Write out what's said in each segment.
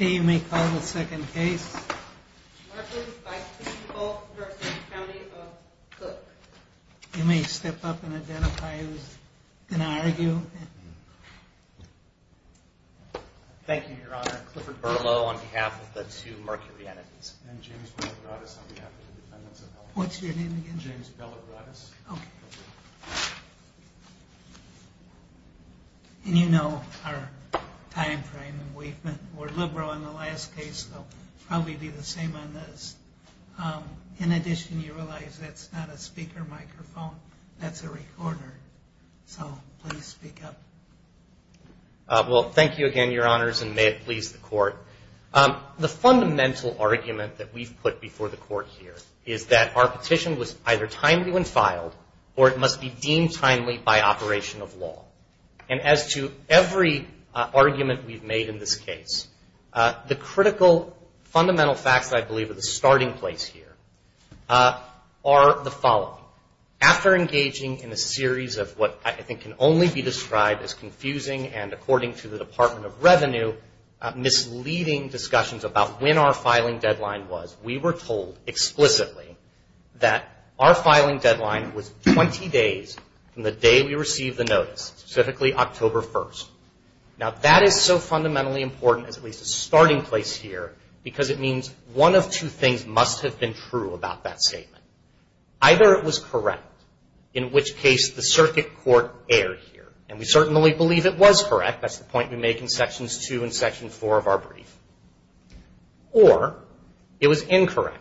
You may step up and identify who's going to argue. Thank you, Your Honor. Clifford Berlow on behalf of the two mercury entities. And James Bellaratus on behalf of the defendants of L.A. What's your name again? James Bellaratus. Okay. And you know our time frame, and we've been more liberal in the last case, so it'll probably be the same on this. In addition, you realize that's not a speaker microphone, that's a recorder. So please speak up. Well, thank you again, Your Honors, and may it please the Court. The fundamental argument that we've put before the Court here is that our petition was either timely when filed or it must be deemed timely by operation of law. And as to every argument we've made in this case, the critical fundamental facts I believe are the starting place here are the following. After engaging in a series of what I think can only be described as confusing and according to the Department of Revenue misleading discussions about when our filing deadline was, we were told explicitly that our filing deadline was 20 days from the day we received the notice, specifically October 1st. Now, that is so fundamentally important as at least a starting place here because it means one of two things must have been true about that statement. Either it was correct, in which case the circuit court erred here. And we certainly believe it was correct. That's the point we make in Sections 2 and Section 4 of our brief. Or it was incorrect,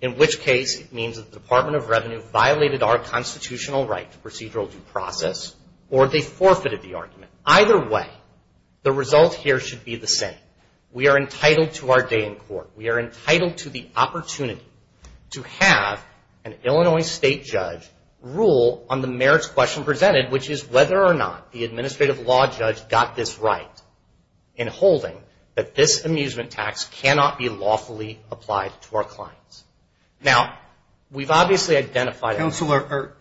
in which case it means the Department of Revenue violated our constitutional right to procedural due process or they forfeited the argument. Either way, the result here should be the same. We are entitled to our day in court. We are entitled to the opportunity to have an Illinois State judge rule on the merits question presented, which is whether or not the administrative law judge got this right in holding that this amusement tax cannot be lawfully applied to our clients. Now, we've obviously identified... Counselor,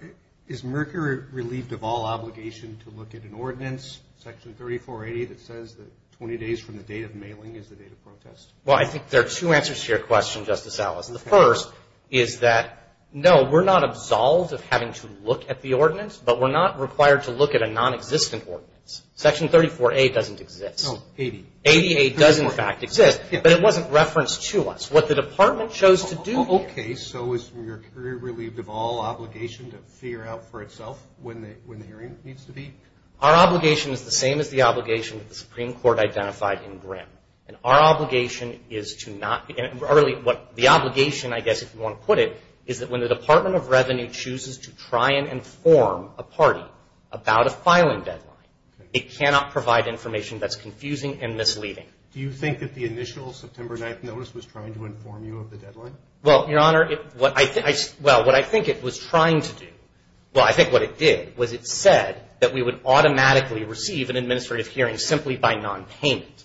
is Merkur relieved of all obligation to look at an ordinance, Section 3480, that says that 20 days from the date of mailing is the date of protest? Well, I think there are two answers to your question, Justice Alice. The first is that, no, we're not absolved of having to look at the ordinance, but we're not required to look at a nonexistent ordinance. Section 34A doesn't exist. ADA does, in fact, exist, but it wasn't referenced to us. What the Department chose to do... Okay, so is Merkur relieved of all obligation to figure out for itself when the hearing needs to be? Our obligation is the same as the obligation that the Supreme Court identified in Grimm. And our obligation is to not... The obligation, I guess, if you want to put it, is that when the Department of Revenue chooses to try and inform a party about a filing deadline, it cannot provide information that's confusing and misleading. Do you think that the initial September 9th notice was trying to inform you of the deadline? Well, Your Honor, what I think it was trying to do... Well, I think what it did was it said that we would automatically receive an administrative hearing simply by nonpayment.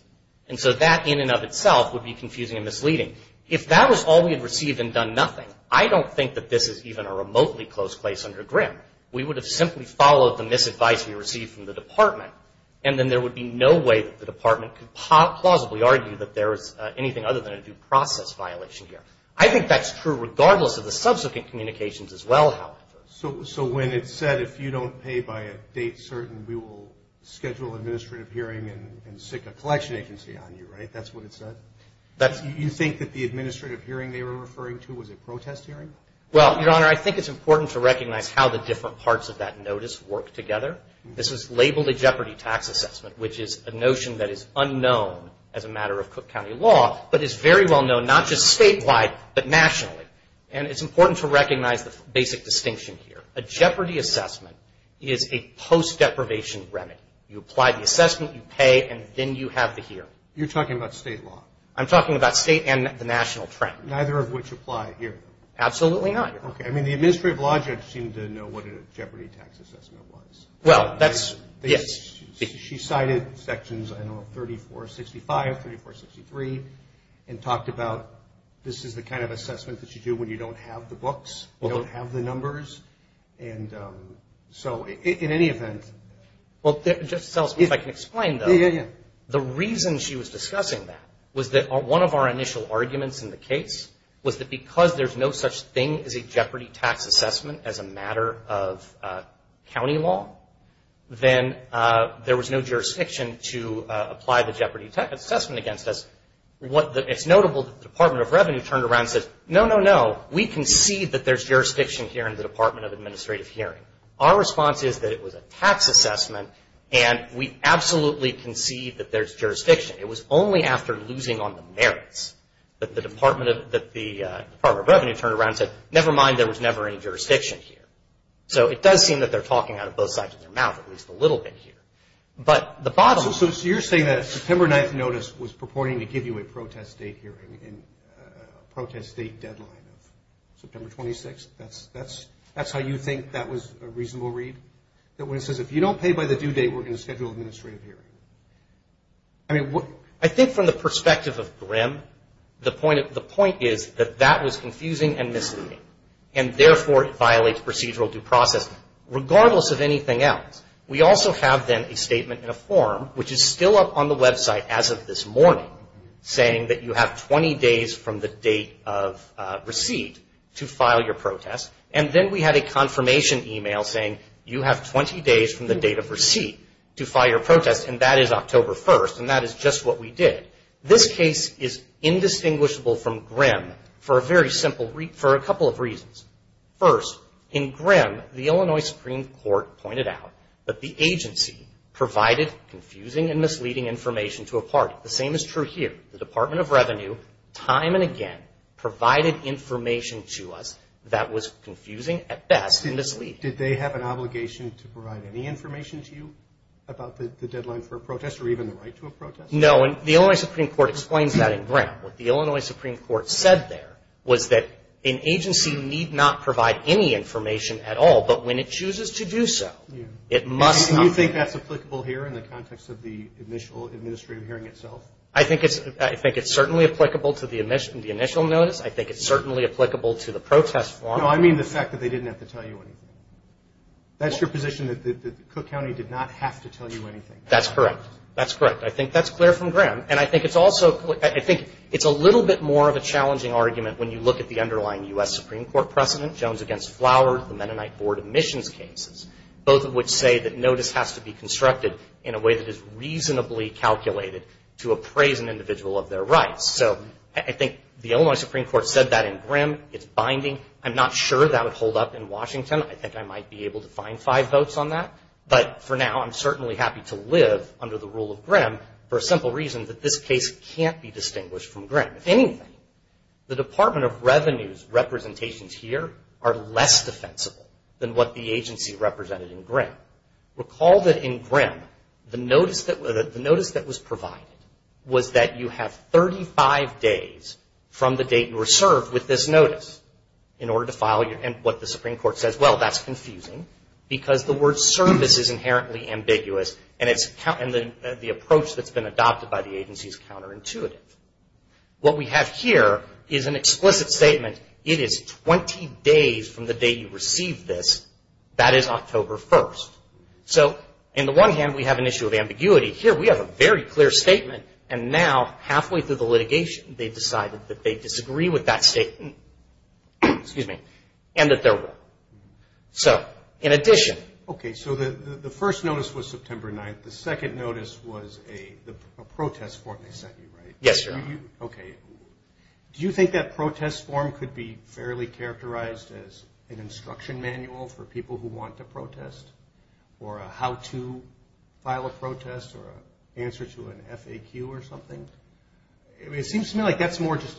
And so that, in and of itself, would be confusing and misleading. If that was all we had received and done nothing, I don't think that this is even a remotely close place under Grimm. We would have simply followed the misadvice we received from the Department, and then there would be no way that the Department could plausibly argue that there is anything other than a due process violation here. I think that's true regardless of the subsequent communications as well, however. So when it said, if you don't pay by a date certain, we will schedule an administrative hearing and stick a collection agency on you, right? That's what it said? That's... You think that the administrative hearing they were referring to was a protest hearing? Well, Your Honor, I think it's important to recognize how the different parts of that notice work together. This was labeled a jeopardy tax assessment, which is a notion that is unknown as a matter of Cook County law, but is very well known not just statewide, but nationally. And it's important to recognize the basic distinction here. A jeopardy assessment is a post-deprivation remedy. You apply the assessment, you pay, and then you have the hearing. You're talking about state law? I'm talking about state and the national trend. Neither of which apply here? Absolutely not, Your Honor. Okay. I mean, the administrative law judge seemed to know what a jeopardy tax assessment was. Well, that's... Yes. She cited sections, I don't know, 3465, 3463, and talked about this is the kind of assessment that you do when you don't have the books, you don't have the numbers. And so, in any event... Well, Justice Ellsworth, if I can explain, though. Yeah, yeah, yeah. The reason she was discussing that was that one of our initial arguments in the case was that because there's no such thing as a jeopardy tax assessment as a matter of county law, then there was no jurisdiction to apply the jeopardy assessment against us. It's notable that the Department of Revenue turned around and said, no, no, no, we concede that there's jurisdiction here in the Department of Administrative Hearing. Our response is that it was a tax assessment, and we absolutely concede that there's jurisdiction. It was only after losing on the merits that the Department of Revenue turned around and said, never mind, there was never any jurisdiction here. So it does seem that they're talking out of both sides of their mouth, at least a little bit here. So you're saying that a September 9th notice was purporting to give you a protest date hearing, a protest date deadline of September 26th? That's how you think that was a reasonable read? That when it says, if you don't pay by the due date, we're going to schedule an administrative hearing? I think from the perspective of Grimm, the point is that that was confusing and misleading, and therefore it violates procedural due process, regardless of anything else. We also have then a statement in a form, which is still up on the website as of this morning, saying that you have 20 days from the date of receipt to file your protest, and then we had a confirmation email saying you have 20 days from the date of receipt to file your protest, and that is October 1st, and that is just what we did. This case is indistinguishable from Grimm for a couple of reasons. First, in Grimm, the Illinois Supreme Court pointed out that the agency provided confusing and misleading information to a party. The same is true here. The Department of Revenue, time and again, provided information to us that was confusing, at best, and misleading. Did they have an obligation to provide any information to you about the deadline for a protest, or even the right to a protest? No, and the Illinois Supreme Court explains that in Grimm. What the Illinois Supreme Court said there was that an agency need not provide any information at all, but when it chooses to do so, it must not. Do you think that's applicable here in the context of the initial administrative hearing itself? I think it's certainly applicable to the initial notice. I think it's certainly applicable to the protest form. No, I mean the fact that they didn't have to tell you anything. That's your position, that Cook County did not have to tell you anything? That's correct. That's correct. I think that's clear from Grimm. And I think it's also, I think it's a little bit more of a challenging argument when you look at the underlying U.S. Supreme Court precedent, Jones against Flower, the Mennonite Board of Missions cases, both of which say that notice has to be constructed in a way that is reasonably calculated to appraise an individual of their rights. So I think the Illinois Supreme Court said that in Grimm. It's binding. I'm not sure that would hold up in Washington. I think I might be able to find five votes on that. But for now, I'm certainly happy to live under the rule of Grimm for a simple reason that this case can't be distinguished from Grimm. If anything, the Department of Revenue's representations here are less defensible than what the agency represented in Grimm. Recall that in Grimm, the notice that was provided was that you have 35 days from the date you were served with this notice in order to file what the Supreme Court says. Well, that's confusing because the word service is inherently ambiguous and the approach that's been adopted by the agency is counterintuitive. What we have here is an explicit statement. It is 20 days from the date you received this. That is October 1st. So in the one hand, we have an issue of ambiguity. Here, we have a very clear statement. And now, halfway through the litigation, they decided that they disagree with that statement and that So, in addition... Okay, so the first notice was September 9th. The second notice was a protest form they sent you, right? Yes, Your Honor. Okay. Do you think that protest form could be fairly characterized as an instruction manual for people who want to protest or a how-to file a protest or an answer to an FAQ or something? It seems to me like that's just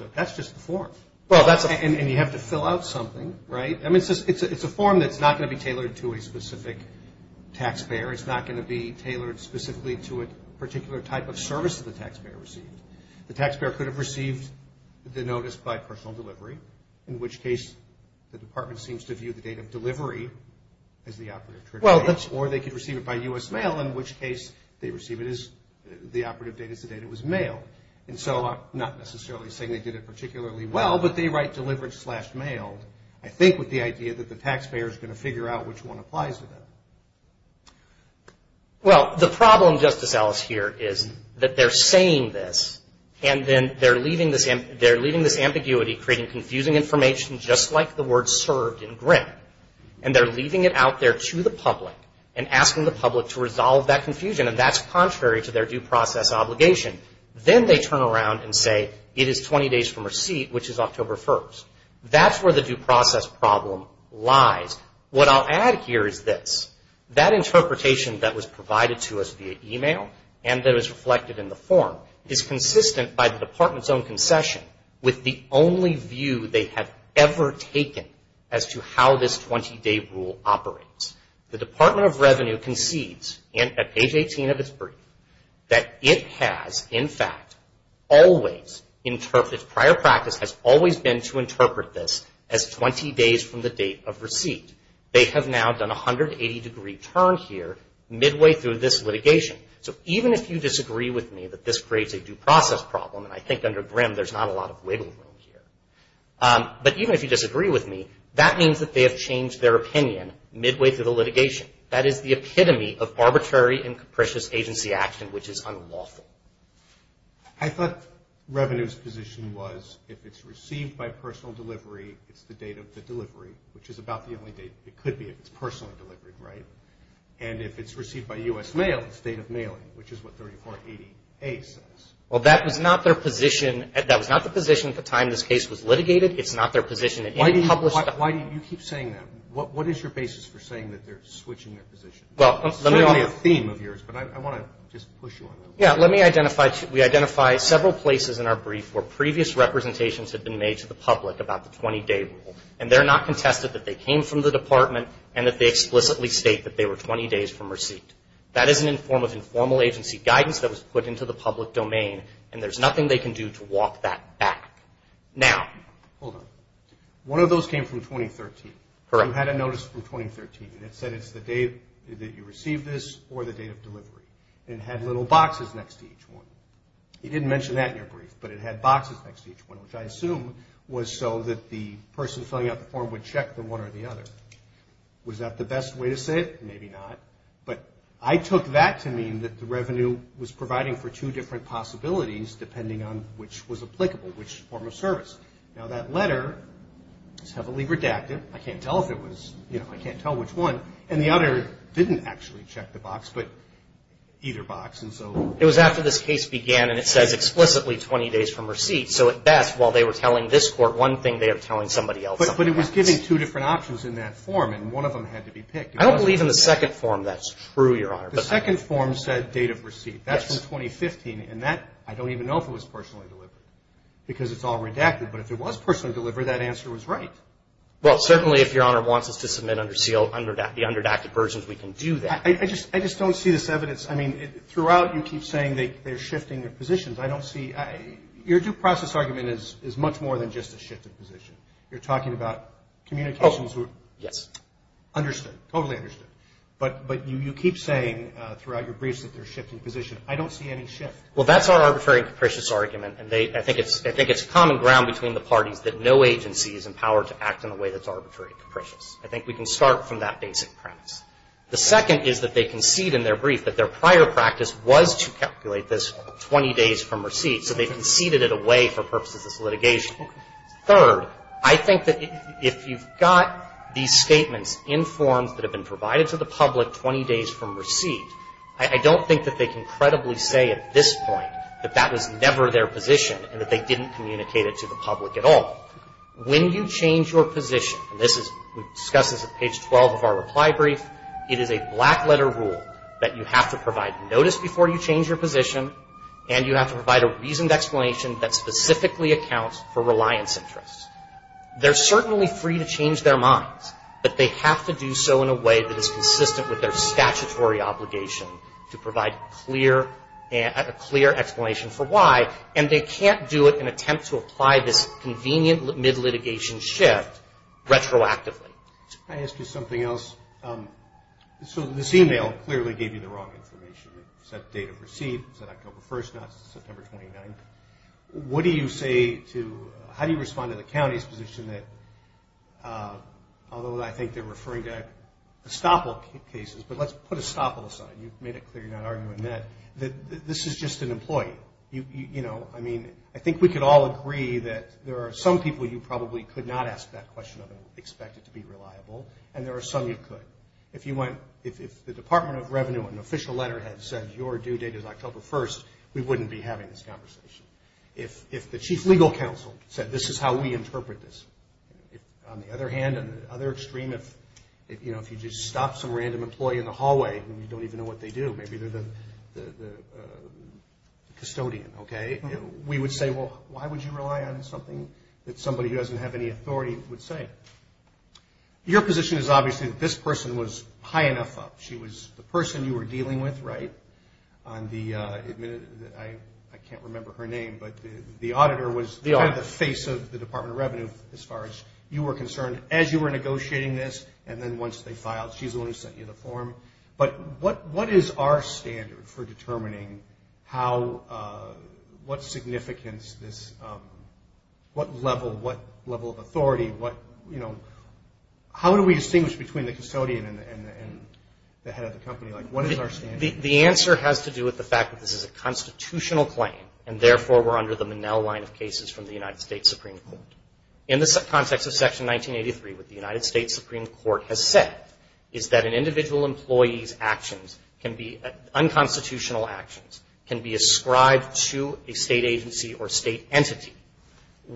the form. And you have to fill out something, right? I mean, it's a form that's not going to be tailored to a specific taxpayer. It's not going to be tailored specifically to a particular type of service that the taxpayer received. The taxpayer could have received the notice by personal delivery, in which case the department seems to view the date of delivery as the operative date. Or they could receive it by U.S. mail, in which case they receive it as the operative date as the date it was mailed. And so, I'm not necessarily saying they did it particularly well, but they write delivered slash mailed. I think with the idea that the taxpayer is going to figure out which one applies to them. Well, the problem, Justice Ellis, here is that they're saying this, and then they're leaving this ambiguity creating confusing information just like the word served in Grimm. And they're leaving it out there to the public and asking the public to resolve that confusion, and that's contrary to their due process obligation. Then they turn around and say, it is 20 days from receipt, which is October 1st. That's where the due process problem lies. What I'll add here is this, that interpretation that was provided to us via e-mail, and that is reflected in the form, is consistent by the department's own concession with the only view they have ever taken as to how this 20-day rule operates. The Department of Revenue concedes, at page 18 of its brief, that it has, in fact, always interpreted, prior practice has always been to interpret this as 20 days from the date of receipt. They have now done a 180-degree turn here midway through this litigation. So even if you disagree with me that this creates a due process problem, and I think under Grimm there's not a lot of wiggle room here, but even if you disagree with me, that means that they have changed their opinion midway through the litigation. That is the epitome of arbitrary and capricious agency action, which is unlawful. I thought Revenue's position was if it's received by personal delivery, it's the date of the delivery, which is about the only date it could be if it's personally delivered, right? And if it's received by U.S. mail, it's the date of mailing, which is what 3480A says. Well, that was not their position at the time this case was litigated. It's not their position in any published document. Why do you keep saying that? What is your basis for saying that they're switching their position? It's certainly a theme of yours, but I want to just push you on that one. Yeah, let me identify. We identify several places in our brief where previous representations have been made to the public about the 20-day rule, and they're not contested that they came from the department and that they explicitly state that they were 20 days from receipt. That is in the form of informal agency guidance that was put into the public domain, and there's nothing they can do to walk that back. Now, hold on. One of those came from 2013. Correct. You had a notice from 2013, and it said it's the date that you received this or the date of delivery, and it had little boxes next to each one. You didn't mention that in your brief, but it had boxes next to each one, which I assume was so that the person filling out the form would check the one or the other. Was that the best way to say it? Maybe not. But I took that to mean that the revenue was providing for two different possibilities, depending on which was applicable, which form of service. Now, that letter is heavily redacted. I can't tell which one, and the other didn't actually check the box, but either box. It was after this case began, and it says explicitly 20 days from receipt, so at best, while they were telling this court one thing, they were telling somebody else something else. But it was giving two different options in that form, and one of them had to be picked. I don't believe in the second form. That's true, Your Honor. The second form said date of receipt. That's from 2015. And that, I don't even know if it was personally delivered because it's all redacted. But if it was personally delivered, that answer was right. Well, certainly if Your Honor wants us to submit the underdacted versions, we can do that. I just don't see this evidence. I mean, throughout, you keep saying they're shifting their positions. I don't see – your due process argument is much more than just a shifted position. You're talking about communications. Yes. Understood, totally understood. But you keep saying throughout your briefs that they're shifting positions. I don't see any shift. Well, that's our arbitrary and capricious argument. And I think it's common ground between the parties that no agency is empowered to act in a way that's arbitrary and capricious. I think we can start from that basic premise. The second is that they concede in their brief that their prior practice was to calculate this 20 days from receipt, so they conceded it away for purposes of litigation. Third, I think that if you've got these statements in forms that have been provided to the public 20 days from receipt, I don't think that they can credibly say at this point that that was never their position and that they didn't communicate it to the public at all. When you change your position, and this is – we discuss this at page 12 of our reply brief, it is a black letter rule that you have to provide notice before you change your position, and you have to provide a reasoned explanation that specifically accounts for reliance interests. They're certainly free to change their minds, but they have to do so in a way that is consistent with their statutory obligation to provide a clear explanation for why, and they can't do it in an attempt to apply this convenient mid-litigation shift retroactively. Can I ask you something else? So this email clearly gave you the wrong information. It said date of receipt, it said October 1st, not September 29th. What do you say to – how do you respond to the county's position that – although I think they're referring to estoppel cases, but let's put estoppel aside. You've made it clear you're not arguing that. This is just an employee. You know, I mean, I think we could all agree that there are some people you probably could not ask that question of and expect it to be reliable, and there are some you could. If you went – if the Department of Revenue, an official letterhead, said your due date is October 1st, we wouldn't be having this conversation. If the chief legal counsel said this is how we interpret this. On the other hand, on the other extreme, if, you know, if you just stop some random employee in the hallway and you don't even know what they do, maybe they're the custodian, okay, we would say, well, why would you rely on something that somebody who doesn't have any authority would say? Your position is obviously that this person was high enough up. She was the person you were dealing with, right, on the – I can't remember her name, but the auditor was kind of the face of the Department of Revenue as far as you were concerned as you were negotiating this, and then once they filed, she's the one who sent you the form. But what is our standard for determining how – what significance this – what level, what level of authority, what – you know, how do we distinguish between the custodian and the head of the company? Like, what is our standard? The answer has to do with the fact that this is a constitutional claim, and therefore we're under the Monell line of cases from the United States Supreme Court. In the context of Section 1983, what the United States Supreme Court has said is that an individual employee's actions can be – unconstitutional actions can be ascribed to a state agency or state entity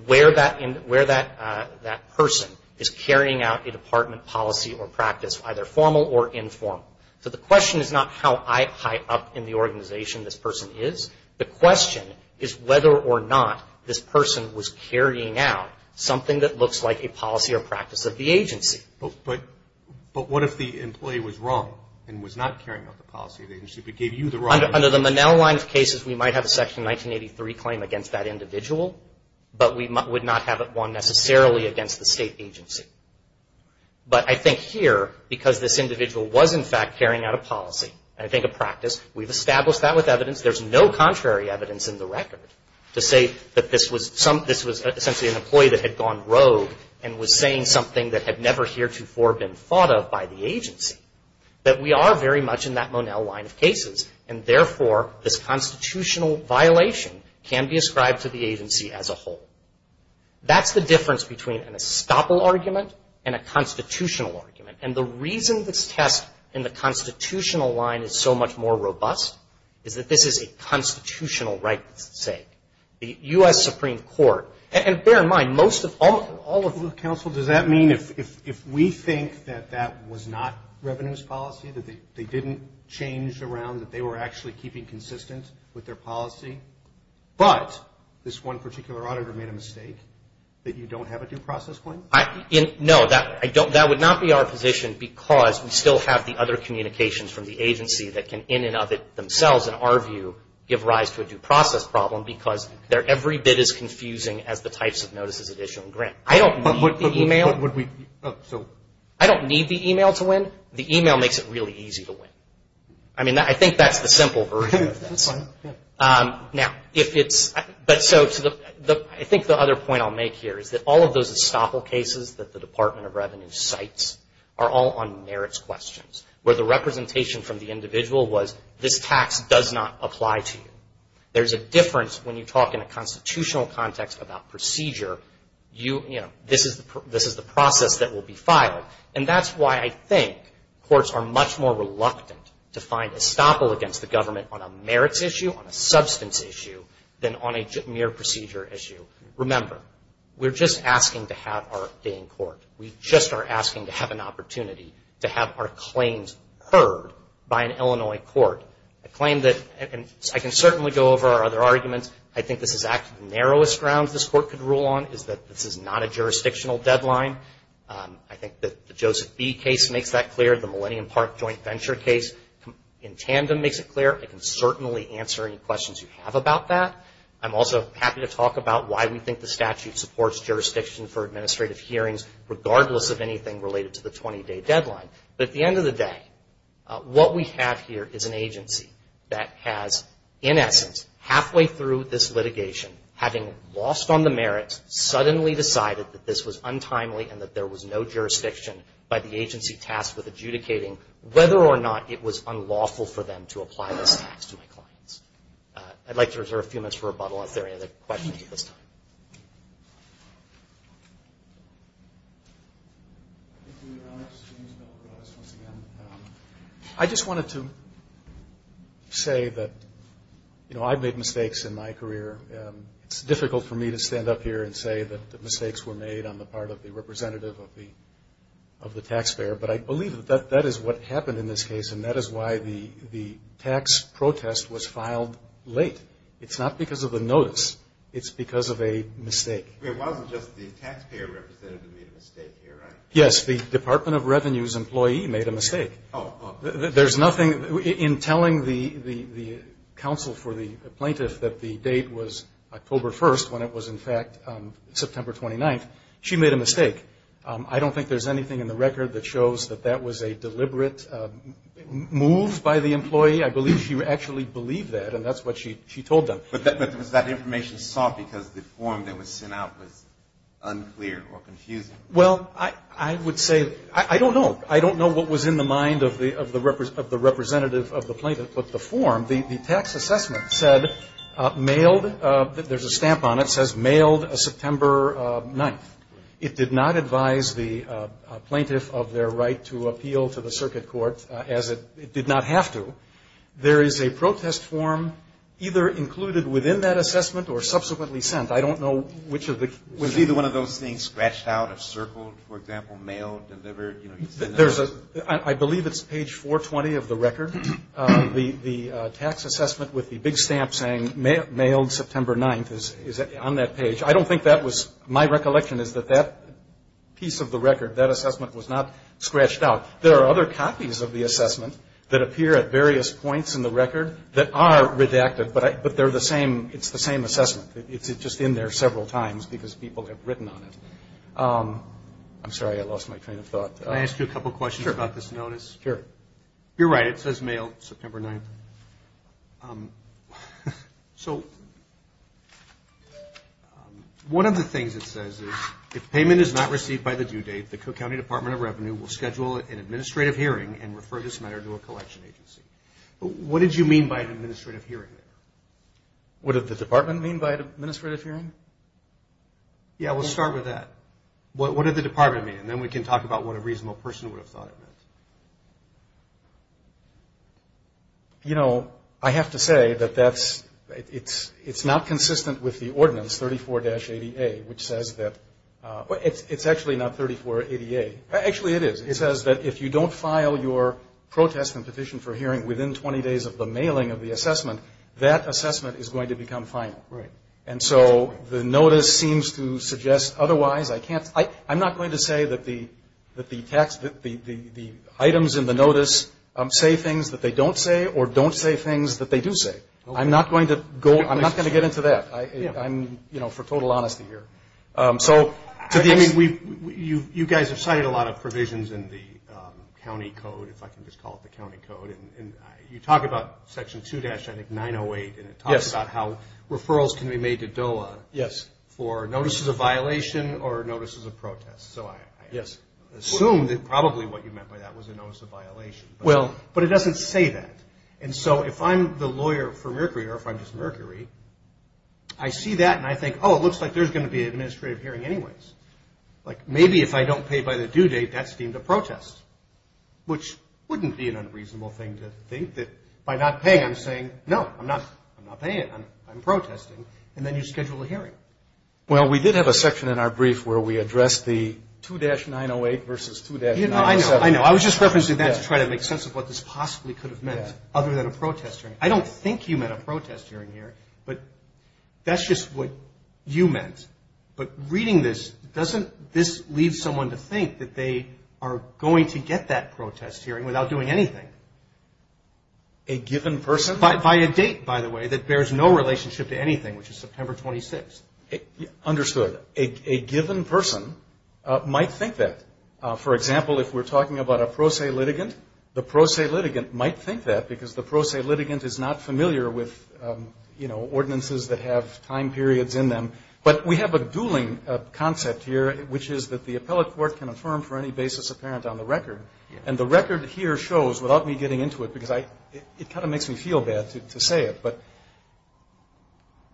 where that – where that person is carrying out a department policy or practice, either formal or informal. So the question is not how high up in the organization this person is. The question is whether or not this person was carrying out something that looks like a policy or practice of the agency. But what if the employee was wrong and was not carrying out the policy of the agency, but gave you the right information? Under the Monell line of cases, we might have a Section 1983 claim against that individual, but we would not have one necessarily against the state agency. But I think here, because this individual was in fact carrying out a policy, I think a practice, we've established that with evidence. There's no contrary evidence in the record to say that this was some – this was essentially an employee that had gone rogue and was saying something that had never heretofore been thought of by the agency. But we are very much in that Monell line of cases, and therefore this constitutional violation can be ascribed to the agency as a whole. That's the difference between an estoppel argument and a constitutional argument. And the reason this test in the constitutional line is so much more robust is that this is a constitutional rights sake. The U.S. Supreme Court – and bear in mind, most of – all of – Counsel, does that mean if we think that that was not revenues policy, that they didn't change around, that they were actually keeping consistent with their policy, but this one particular auditor made a mistake, that you don't have a due process claim? No, that would not be our position because we still have the other communications from the agency that can in and of themselves, in our view, give rise to a due process problem because they're every bit as confusing as the types of notices that issue in grant. I don't need the e-mail. I don't need the e-mail to win. The e-mail makes it really easy to win. I mean, I think that's the simple version of this. I think the other point I'll make here is that all of those estoppel cases that the Department of Revenue cites are all on merits questions, where the representation from the individual was, this tax does not apply to you. There's a difference when you talk in a constitutional context about procedure. This is the process that will be filed. And that's why I think courts are much more reluctant to find estoppel against the government on a merits issue, on a substance issue, than on a mere procedure issue. Remember, we're just asking to have our day in court. We just are asking to have an opportunity to have our claims heard by an Illinois court. I claim that I can certainly go over our other arguments. I think this is actually the narrowest grounds this court could rule on, is that this is not a jurisdictional deadline. I think that the Joseph B. case makes that clear. The Millennium Park Joint Venture case in tandem makes it clear. I can certainly answer any questions you have about that. I'm also happy to talk about why we think the statute supports jurisdiction for administrative hearings, regardless of anything related to the 20-day deadline. But at the end of the day, what we have here is an agency that has, in essence, halfway through this litigation, having lost on the merits, suddenly decided that this was untimely and that there was no jurisdiction by the agency tasked with adjudicating, whether or not it was unlawful for them to apply this tax to my clients. I'd like to reserve a few minutes for rebuttal, if there are any other questions at this time. I just wanted to say that I've made mistakes in my career. It's difficult for me to stand up here and say that the mistakes were made on the part of the representative of the taxpayer, but I believe that that is what happened in this case, and that is why the tax protest was filed late. It's not because of the notice. It's because of a mistake. It wasn't just the taxpayer representative who made a mistake here, right? Yes, the Department of Revenue's employee made a mistake. There's nothing in telling the counsel for the plaintiff that the date was October 1st, when it was in fact September 29th. She made a mistake. I don't think there's anything in the record that shows that that was a deliberate move by the employee. I believe she actually believed that, and that's what she told them. But was that information sought because the form that was sent out was unclear or confusing? Well, I would say, I don't know. I don't know what was in the mind of the representative of the plaintiff, but the form, the tax assessment said, mailed, there's a stamp on it, it says, mailed September 9th. It did not advise the plaintiff of their right to appeal to the circuit court, as it did not have to. There is a protest form either included within that assessment or subsequently sent. I don't know which of the two. Was either one of those things scratched out or circled, for example, mailed, delivered? I believe it's page 420 of the record. The tax assessment with the big stamp saying mailed September 9th is on that page. I don't think that was my recollection is that that piece of the record, that assessment was not scratched out. There are other copies of the assessment that appear at various points in the record that are redacted, but they're the same, it's the same assessment. It's just in there several times because people have written on it. I'm sorry, I lost my train of thought. Can I ask you a couple questions about this notice? Sure. You're right, it says mailed September 9th. So one of the things it says is, if payment is not received by the due date, the Cook County Department of Revenue will schedule an administrative hearing and refer this matter to a collection agency. What did you mean by an administrative hearing? What did the department mean by an administrative hearing? Yeah, we'll start with that. What did the department mean? And then we can talk about what a reasonable person would have thought it meant. You know, I have to say that that's, it's not consistent with the ordinance 34-88, which says that, well, it's actually not 34-88. Actually, it is. It says that if you don't file your protest and petition for hearing within 20 days of the mailing of the assessment, that assessment is going to become final. Right. And so the notice seems to suggest otherwise. I'm not going to say that the items in the notice say things that they don't say or don't say things that they do say. I'm not going to go, I'm not going to get into that. I'm, you know, for total honesty here. You guys have cited a lot of provisions in the county code, if I can just call it the county code, and you talk about Section 2-908, and it talks about how referrals can be made to DOA. Yes. For notices of violation or notices of protest. So I assume that probably what you meant by that was a notice of violation. Well, but it doesn't say that. And so if I'm the lawyer for Mercury or if I'm just Mercury, I see that and I think, oh, it looks like there's going to be an administrative hearing anyways. Like maybe if I don't pay by the due date, that's deemed a protest, which wouldn't be an unreasonable thing to think that by not paying, I'm saying, no, I'm not paying. I'm protesting. And then you schedule a hearing. Well, we did have a section in our brief where we addressed the 2-908 versus 2-907. I know. I was just referencing that to try to make sense of what this possibly could have meant other than a protest hearing. I don't think you meant a protest hearing here, but that's just what you meant. But reading this, doesn't this leave someone to think that they are going to get that protest hearing without doing anything? A given person? By a date, by the way, that bears no relationship to anything, which is September 26th. Understood. A given person might think that. For example, if we're talking about a pro se litigant, the pro se litigant might think that, because the pro se litigant is not familiar with, you know, ordinances that have time periods in them. But we have a dueling concept here, which is that the appellate court can affirm for any basis apparent on the record. And the record here shows, without me getting into it, because it kind of makes me feel bad to say it, but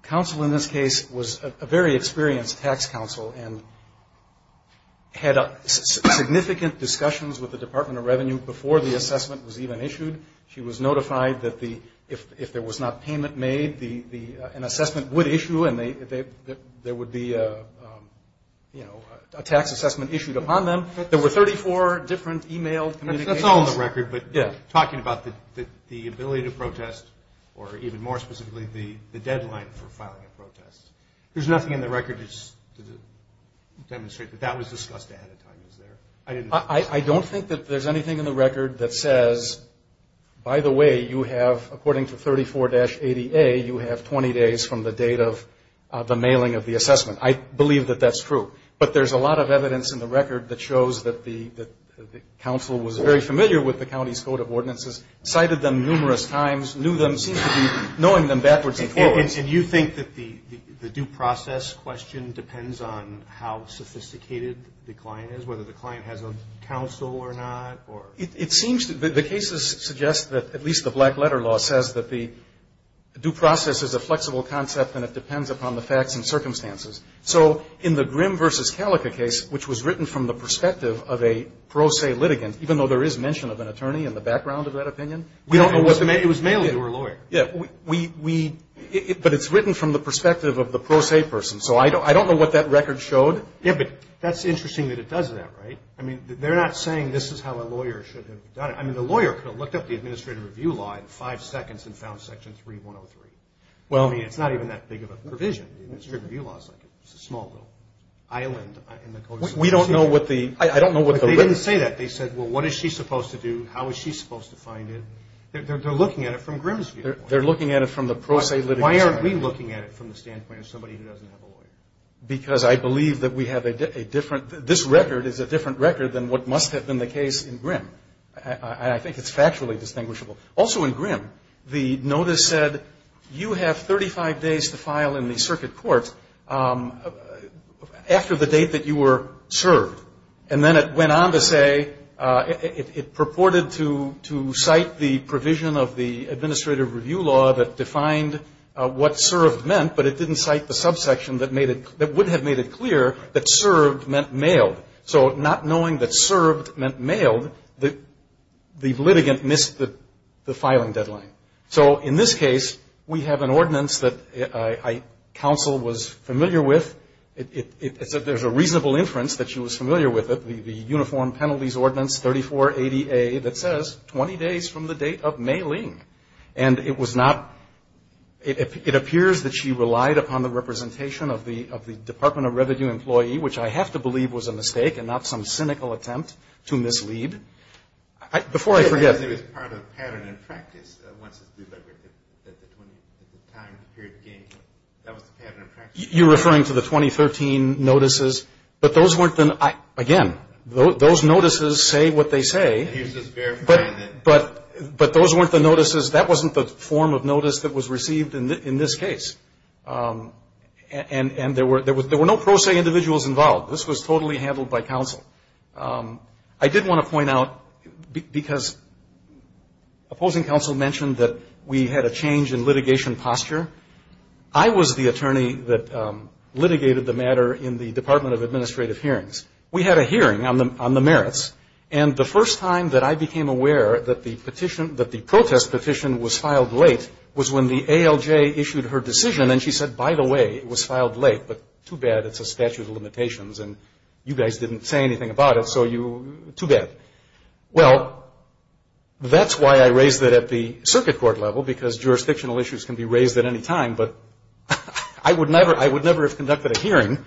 counsel in this case was a very experienced tax counsel and had significant discussions with the Department of Revenue before the assessment was even issued. She was notified that if there was not payment made, an assessment would issue and there would be a tax assessment issued upon them. There were 34 different e-mail communications. It's all in the record, but talking about the ability to protest, or even more specifically the deadline for filing a protest, there's nothing in the record to demonstrate that that was discussed ahead of time, is there? I don't think that there's anything in the record that says, by the way, you have, according to 34-80A, you have 20 days from the date of the mailing of the assessment. I believe that that's true. But there's a lot of evidence in the record that shows that the counsel was very familiar with the county's code of ordinances, cited them numerous times, knew them, seemed to be knowing them backwards and forwards. And you think that the due process question depends on how sophisticated the client is, whether the client has a counsel or not, or? It seems that the cases suggest that at least the black letter law says that the due process is a flexible concept and it depends upon the facts and circumstances. So in the Grimm v. Calica case, which was written from the perspective of a pro se litigant, even though there is mention of an attorney in the background of that opinion, we don't know what the may be. It was mailed to her lawyer. Yeah. But it's written from the perspective of the pro se person, so I don't know what that record showed. Yeah, but that's interesting that it does that, right? I mean, they're not saying this is how a lawyer should have done it. I mean, the lawyer could have looked up the administrative review law in five seconds and found Section 3103. I mean, it's not even that big of a provision. The administrative review law is like a small little island. We don't know what the – I don't know what the – But they didn't say that. They said, well, what is she supposed to do? How is she supposed to find it? They're looking at it from Grimm's view. They're looking at it from the pro se litigant's view. Why aren't we looking at it from the standpoint of somebody who doesn't have a lawyer? Because I believe that we have a different – this record is a different record than what must have been the case in Grimm. I think it's factually distinguishable. Also in Grimm, the notice said you have 35 days to file in the circuit court after the date that you were served. And then it went on to say – it purported to cite the provision of the administrative review law that defined what served meant, but it didn't cite the subsection that made it – that would have made it clear that served meant mailed. So not knowing that served meant mailed, the litigant missed the filing deadline. So in this case, we have an ordinance that counsel was familiar with. There's a reasonable inference that she was familiar with it, the uniform penalties ordinance 3480A that says 20 days from the date of mailing. And it was not – it appears that she relied upon the representation of the Department of Revenue employee, which I have to believe was a mistake and not some cynical attempt to mislead. Before I forget – I guess it was part of pattern and practice. Once it's delivered at the time, period of gain, that was the pattern and practice. You're referring to the 2013 notices. But those weren't the – again, those notices say what they say. And here's just verifying that – But those weren't the notices. That wasn't the form of notice that was received in this case. And there were no pro se individuals involved. This was totally handled by counsel. I did want to point out, because opposing counsel mentioned that we had a change in litigation posture. I was the attorney that litigated the matter in the Department of Administrative Hearings. We had a hearing on the merits. And the first time that I became aware that the petition – that the protest petition was filed late was when the ALJ issued her decision. And she said, by the way, it was filed late. But too bad. It's a statute of limitations. And you guys didn't say anything about it. So you – too bad. Well, that's why I raised it at the circuit court level, because jurisdictional issues can be raised at any time. But I would never – I would never have conducted a hearing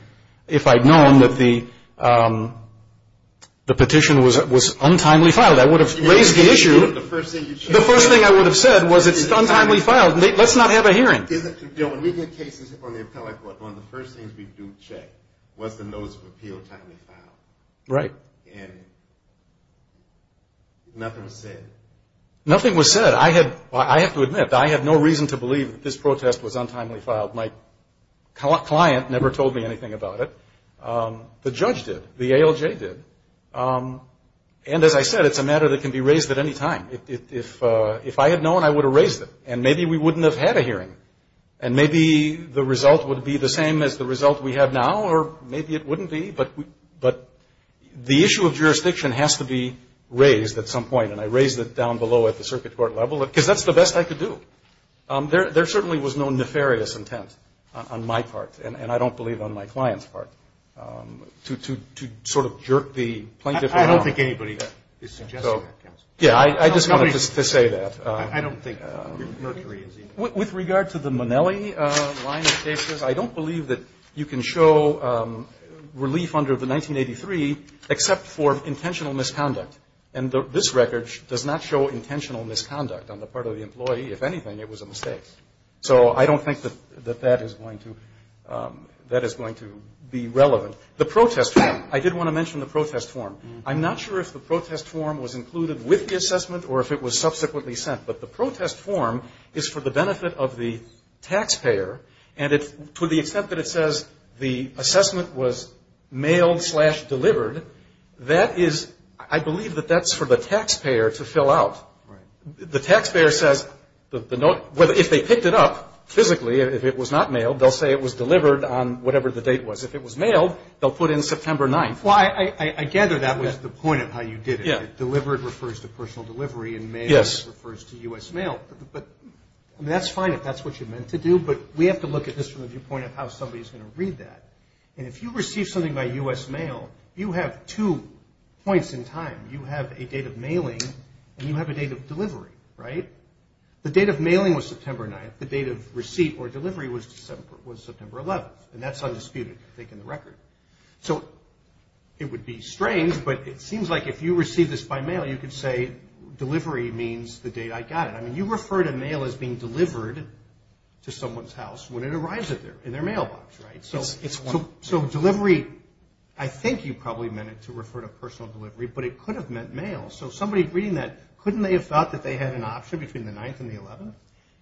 if I'd known that the petition was untimely filed. I would have raised the issue. The first thing I would have said was it's untimely filed. Let's not have a hearing. When we get cases on the appellate court, one of the first things we do check was the notice of appeal timely filed. Right. And nothing was said. Nothing was said. I had – I have to admit, I had no reason to believe that this protest was untimely filed. My client never told me anything about it. The judge did. The ALJ did. And as I said, it's a matter that can be raised at any time. If I had known, I would have raised it. And maybe we wouldn't have had a hearing. And maybe the result would be the same as the result we have now, or maybe it wouldn't be. But the issue of jurisdiction has to be raised at some point. And I raised it down below at the circuit court level, because that's the best I could do. There certainly was no nefarious intent on my part, and I don't believe on my client's part, to sort of jerk the plaintiff around. I don't think anybody is suggesting that, counsel. Yeah, I just wanted to say that. I don't think Mercury is either. With regard to the Minelli line of cases, I don't believe that you can show relief under the 1983 except for intentional misconduct. And this record does not show intentional misconduct on the part of the employee. If anything, it was a mistake. So I don't think that that is going to be relevant. The protest form. I did want to mention the protest form. I'm not sure if the protest form was included with the assessment or if it was subsequently sent. But the protest form is for the benefit of the taxpayer. And to the extent that it says the assessment was mailed slash delivered, I believe that that's for the taxpayer to fill out. Right. The taxpayer says if they picked it up physically, if it was not mailed, they'll say it was delivered on whatever the date was. If it was mailed, they'll put in September 9th. Well, I gather that was the point of how you did it. Delivered refers to personal delivery, and mail refers to U.S. mail. But that's fine if that's what you meant to do, but we have to look at this from the viewpoint of how somebody is going to read that. And if you receive something by U.S. mail, you have two points in time. You have a date of mailing and you have a date of delivery, right? The date of mailing was September 9th. The date of receipt or delivery was September 11th. And that's undisputed, I think, in the record. So it would be strange, but it seems like if you receive this by mail, you could say delivery means the date I got it. I mean, you refer to mail as being delivered to someone's house when it arrives in their mailbox, right? So delivery, I think you probably meant it to refer to personal delivery, but it could have meant mail. So somebody reading that, couldn't they have thought that they had an option between the 9th and the 11th?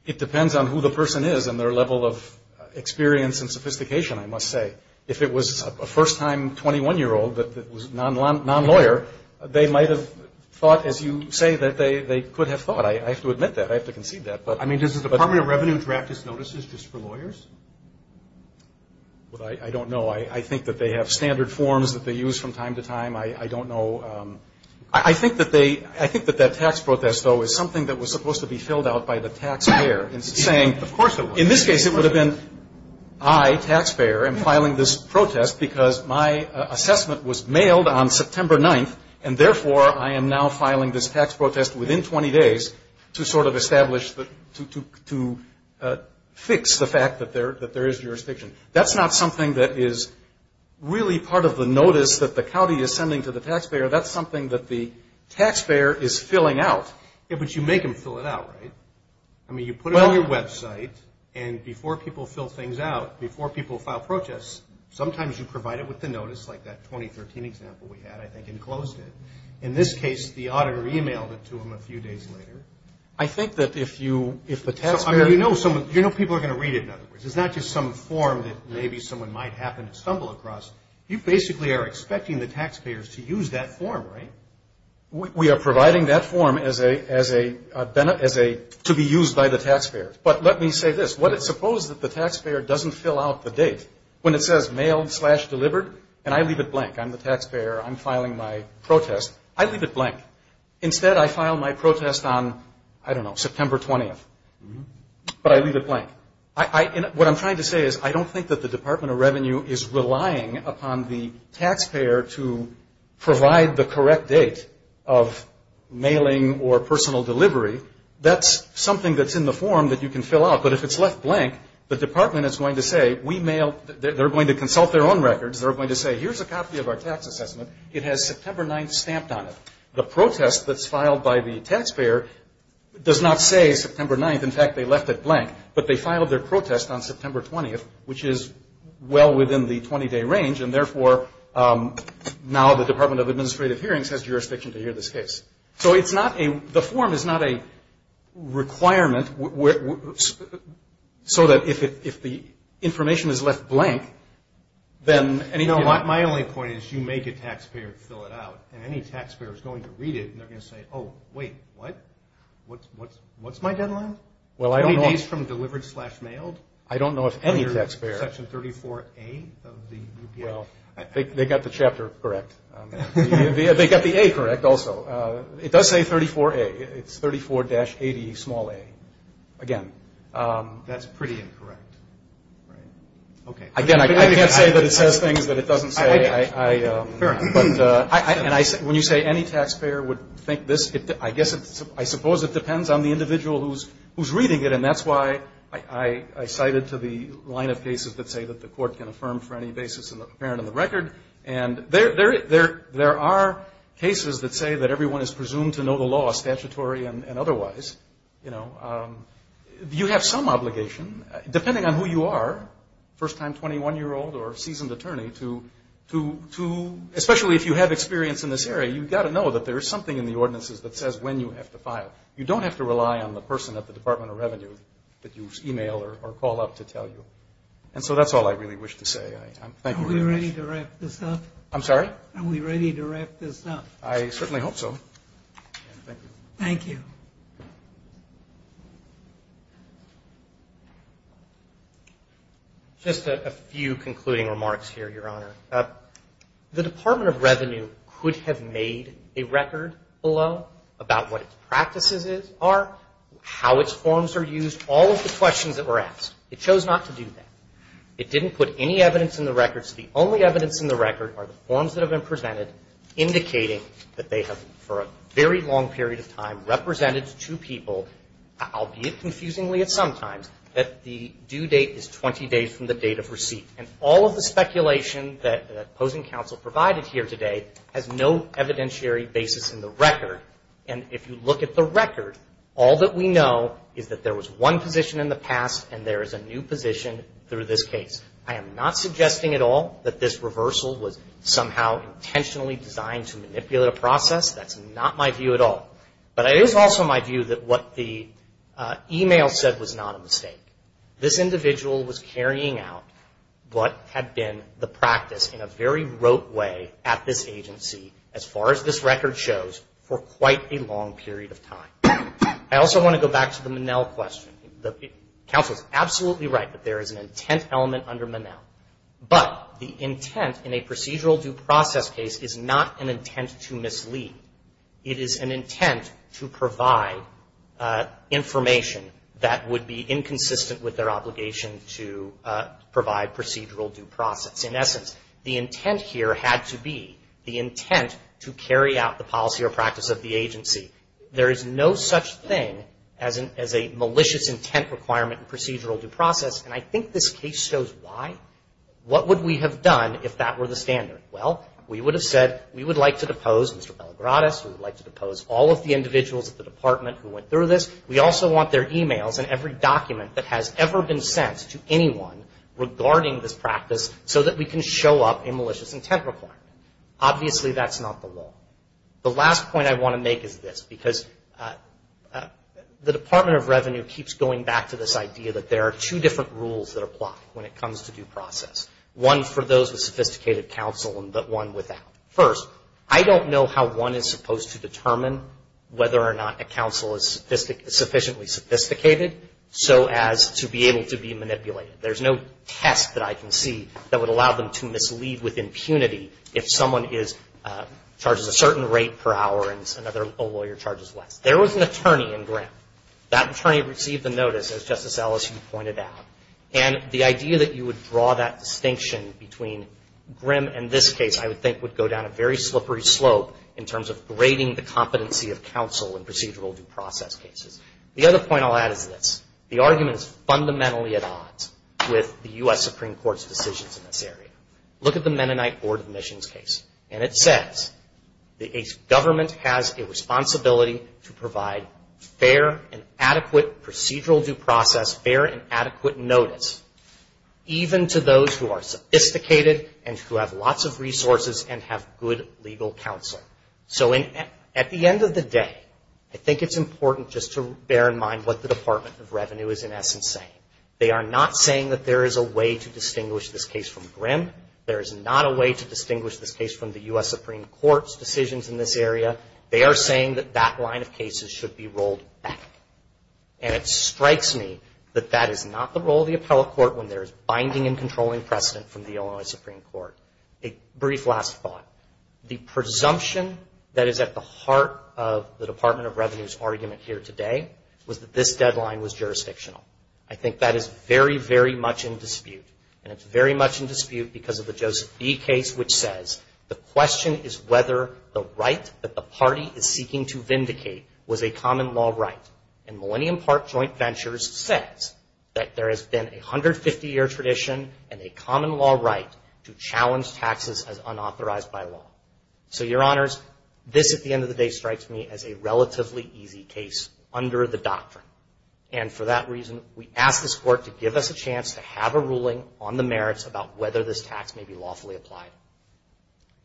It depends on who the person is and their level of experience and sophistication, I must say. If it was a first-time 21-year-old that was non-lawyer, they might have thought, as you say, that they could have thought. I have to admit that. I have to concede that. I mean, does the Department of Revenue draft its notices just for lawyers? Well, I don't know. I think that they have standard forms that they use from time to time. I don't know. I think that that tax protest, though, is something that was supposed to be filled out by the taxpayer. Of course it was. In this case, it would have been I, taxpayer, am filing this protest because my assessment was mailed on September 9th, and therefore I am now filing this tax protest within 20 days to sort of establish, to fix the fact that there is jurisdiction. That's not something that is really part of the notice that the county is sending to the taxpayer. That's something that the taxpayer is filling out. Yeah, but you make them fill it out, right? I mean, you put it on your website, and before people fill things out, before people file protests, sometimes you provide it with the notice, like that 2013 example we had, I think, and closed it. In this case, the auditor emailed it to them a few days later. I think that if the taxpayer – You know people are going to read it, in other words. It's not just some form that maybe someone might happen to stumble across. You basically are expecting the taxpayers to use that form, right? We are providing that form as a – to be used by the taxpayers. But let me say this. Suppose that the taxpayer doesn't fill out the date. When it says mailed slash delivered, and I leave it blank. I'm the taxpayer. I'm filing my protest. I leave it blank. Instead, I file my protest on, I don't know, September 20th. But I leave it blank. What I'm trying to say is I don't think that the Department of Revenue is relying upon the taxpayer to provide the correct date of mailing or personal delivery. That's something that's in the form that you can fill out. But if it's left blank, the department is going to say, we mail – they're going to consult their own records. They're going to say, here's a copy of our tax assessment. It has September 9th stamped on it. The protest that's filed by the taxpayer does not say September 9th. In fact, they left it blank. But they filed their protest on September 20th, which is well within the 20-day range. And, therefore, now the Department of Administrative Hearings has jurisdiction to hear this case. So it's not a – the form is not a requirement so that if the information is left blank, then any – they're going to say, oh, wait, what? What's my deadline? 20 days from delivered slash mailed? I don't know if any taxpayer – Section 34A of the UPA. Well, they got the chapter correct. They got the A correct also. It does say 34A. It's 34-80 small a, again. That's pretty incorrect. Again, I can't say that it says things that it doesn't say. But when you say any taxpayer would think this, I guess it's – I suppose it depends on the individual who's reading it. And that's why I cited to the line of cases that say that the court can affirm for any basis apparent in the record. And there are cases that say that everyone is presumed to know the law, statutory and otherwise. You know, you have some obligation, depending on who you are, first-time 21-year-old or a seasoned attorney to – especially if you have experience in this area, you've got to know that there is something in the ordinances that says when you have to file. You don't have to rely on the person at the Department of Revenue that you email or call up to tell you. And so that's all I really wish to say. Thank you very much. Are we ready to wrap this up? I'm sorry? Are we ready to wrap this up? I certainly hope so. Thank you. Thank you. Just a few concluding remarks here, Your Honor. The Department of Revenue could have made a record below about what its practices are, how its forms are used, all of the questions that were asked. It chose not to do that. It didn't put any evidence in the records. The only evidence in the record are the forms that have been presented indicating that they have, for a very long period of time, represented to two people, albeit confusingly at some times, that the due date is 20 days from the date of receipt. And all of the speculation that opposing counsel provided here today has no evidentiary basis in the record. And if you look at the record, all that we know is that there was one position in the past and there is a new position through this case. I am not suggesting at all that this reversal was somehow intentionally designed to manipulate a process. That's not my view at all. But it is also my view that what the email said was not a mistake. This individual was carrying out what had been the practice in a very rote way at this agency, as far as this record shows, for quite a long period of time. I also want to go back to the Minnell question. The counsel is absolutely right that there is an intent element under Minnell. But the intent in a procedural due process case is not an intent to mislead. It is an intent to provide information that would be inconsistent with their obligation to provide procedural due process. In essence, the intent here had to be the intent to carry out the policy or practice of the agency. There is no such thing as a malicious intent requirement in procedural due process, and I think this case shows why. What would we have done if that were the standard? Well, we would have said we would like to depose Mr. Belagradis. We would like to depose all of the individuals at the department who went through this. We also want their emails and every document that has ever been sent to anyone regarding this practice so that we can show up a malicious intent requirement. Obviously, that's not the law. The last point I want to make is this, because the Department of Revenue keeps going back to this idea that there are two different rules that apply when it comes to due process, one for those with sophisticated counsel and one without. First, I don't know how one is supposed to determine whether or not a counsel is sufficiently sophisticated so as to be able to be manipulated. There's no test that I can see that would allow them to mislead with impunity if someone charges a certain rate per hour and a lawyer charges less. There was an attorney in Grimm. That attorney received the notice, as Justice Ellis, you pointed out, and the idea that you would draw that distinction between Grimm and this case, I would think, would go down a very slippery slope in terms of grading the competency of counsel in procedural due process cases. The other point I'll add is this, the argument is fundamentally at odds with the U.S. Supreme Court's decisions in this area. Look at the Mennonite Board of Admissions case, and it says the government has a responsibility to provide fair and adequate procedural due process, fair and adequate notice, even to those who are sophisticated and who have lots of resources and have good legal counsel. So at the end of the day, I think it's important just to bear in mind what the Department of Revenue is in essence saying. They are not saying that there is a way to distinguish this case from Grimm. There is not a way to distinguish this case from the U.S. Supreme Court's decisions in this area. They are saying that that line of cases should be rolled back. And it strikes me that that is not the role of the appellate court when there is binding and controlling precedent from the Illinois Supreme Court. A brief last thought. The presumption that is at the heart of the Department of Revenue's argument here today was that this deadline was jurisdictional. I think that is very, very much in dispute, and it's very much in dispute because of the Joseph B. case, which says the question is whether the right that the party is seeking to vindicate was a common law right. And Millennium Park Joint Ventures says that there has been a 150-year tradition and a common law right to challenge taxes as unauthorized by law. So, Your Honors, this at the end of the day strikes me as a relatively easy case under the doctrine. And for that reason, we ask this court to give us a chance to have a ruling on the merits about whether this tax may be lawfully applied.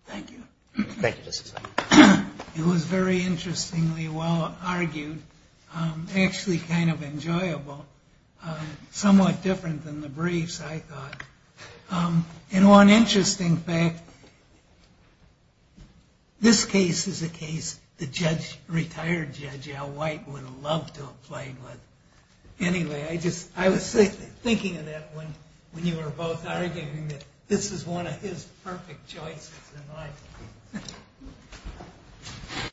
Thank you. Thank you, Justice Sotomayor. It was very interestingly well-argued, actually kind of enjoyable, somewhat different than the briefs, I thought. And one interesting fact, this case is a case the retired Judge Al White would have loved to have played with. Anyway, I was thinking of that when you were both arguing that this is one of his perfect choices in life.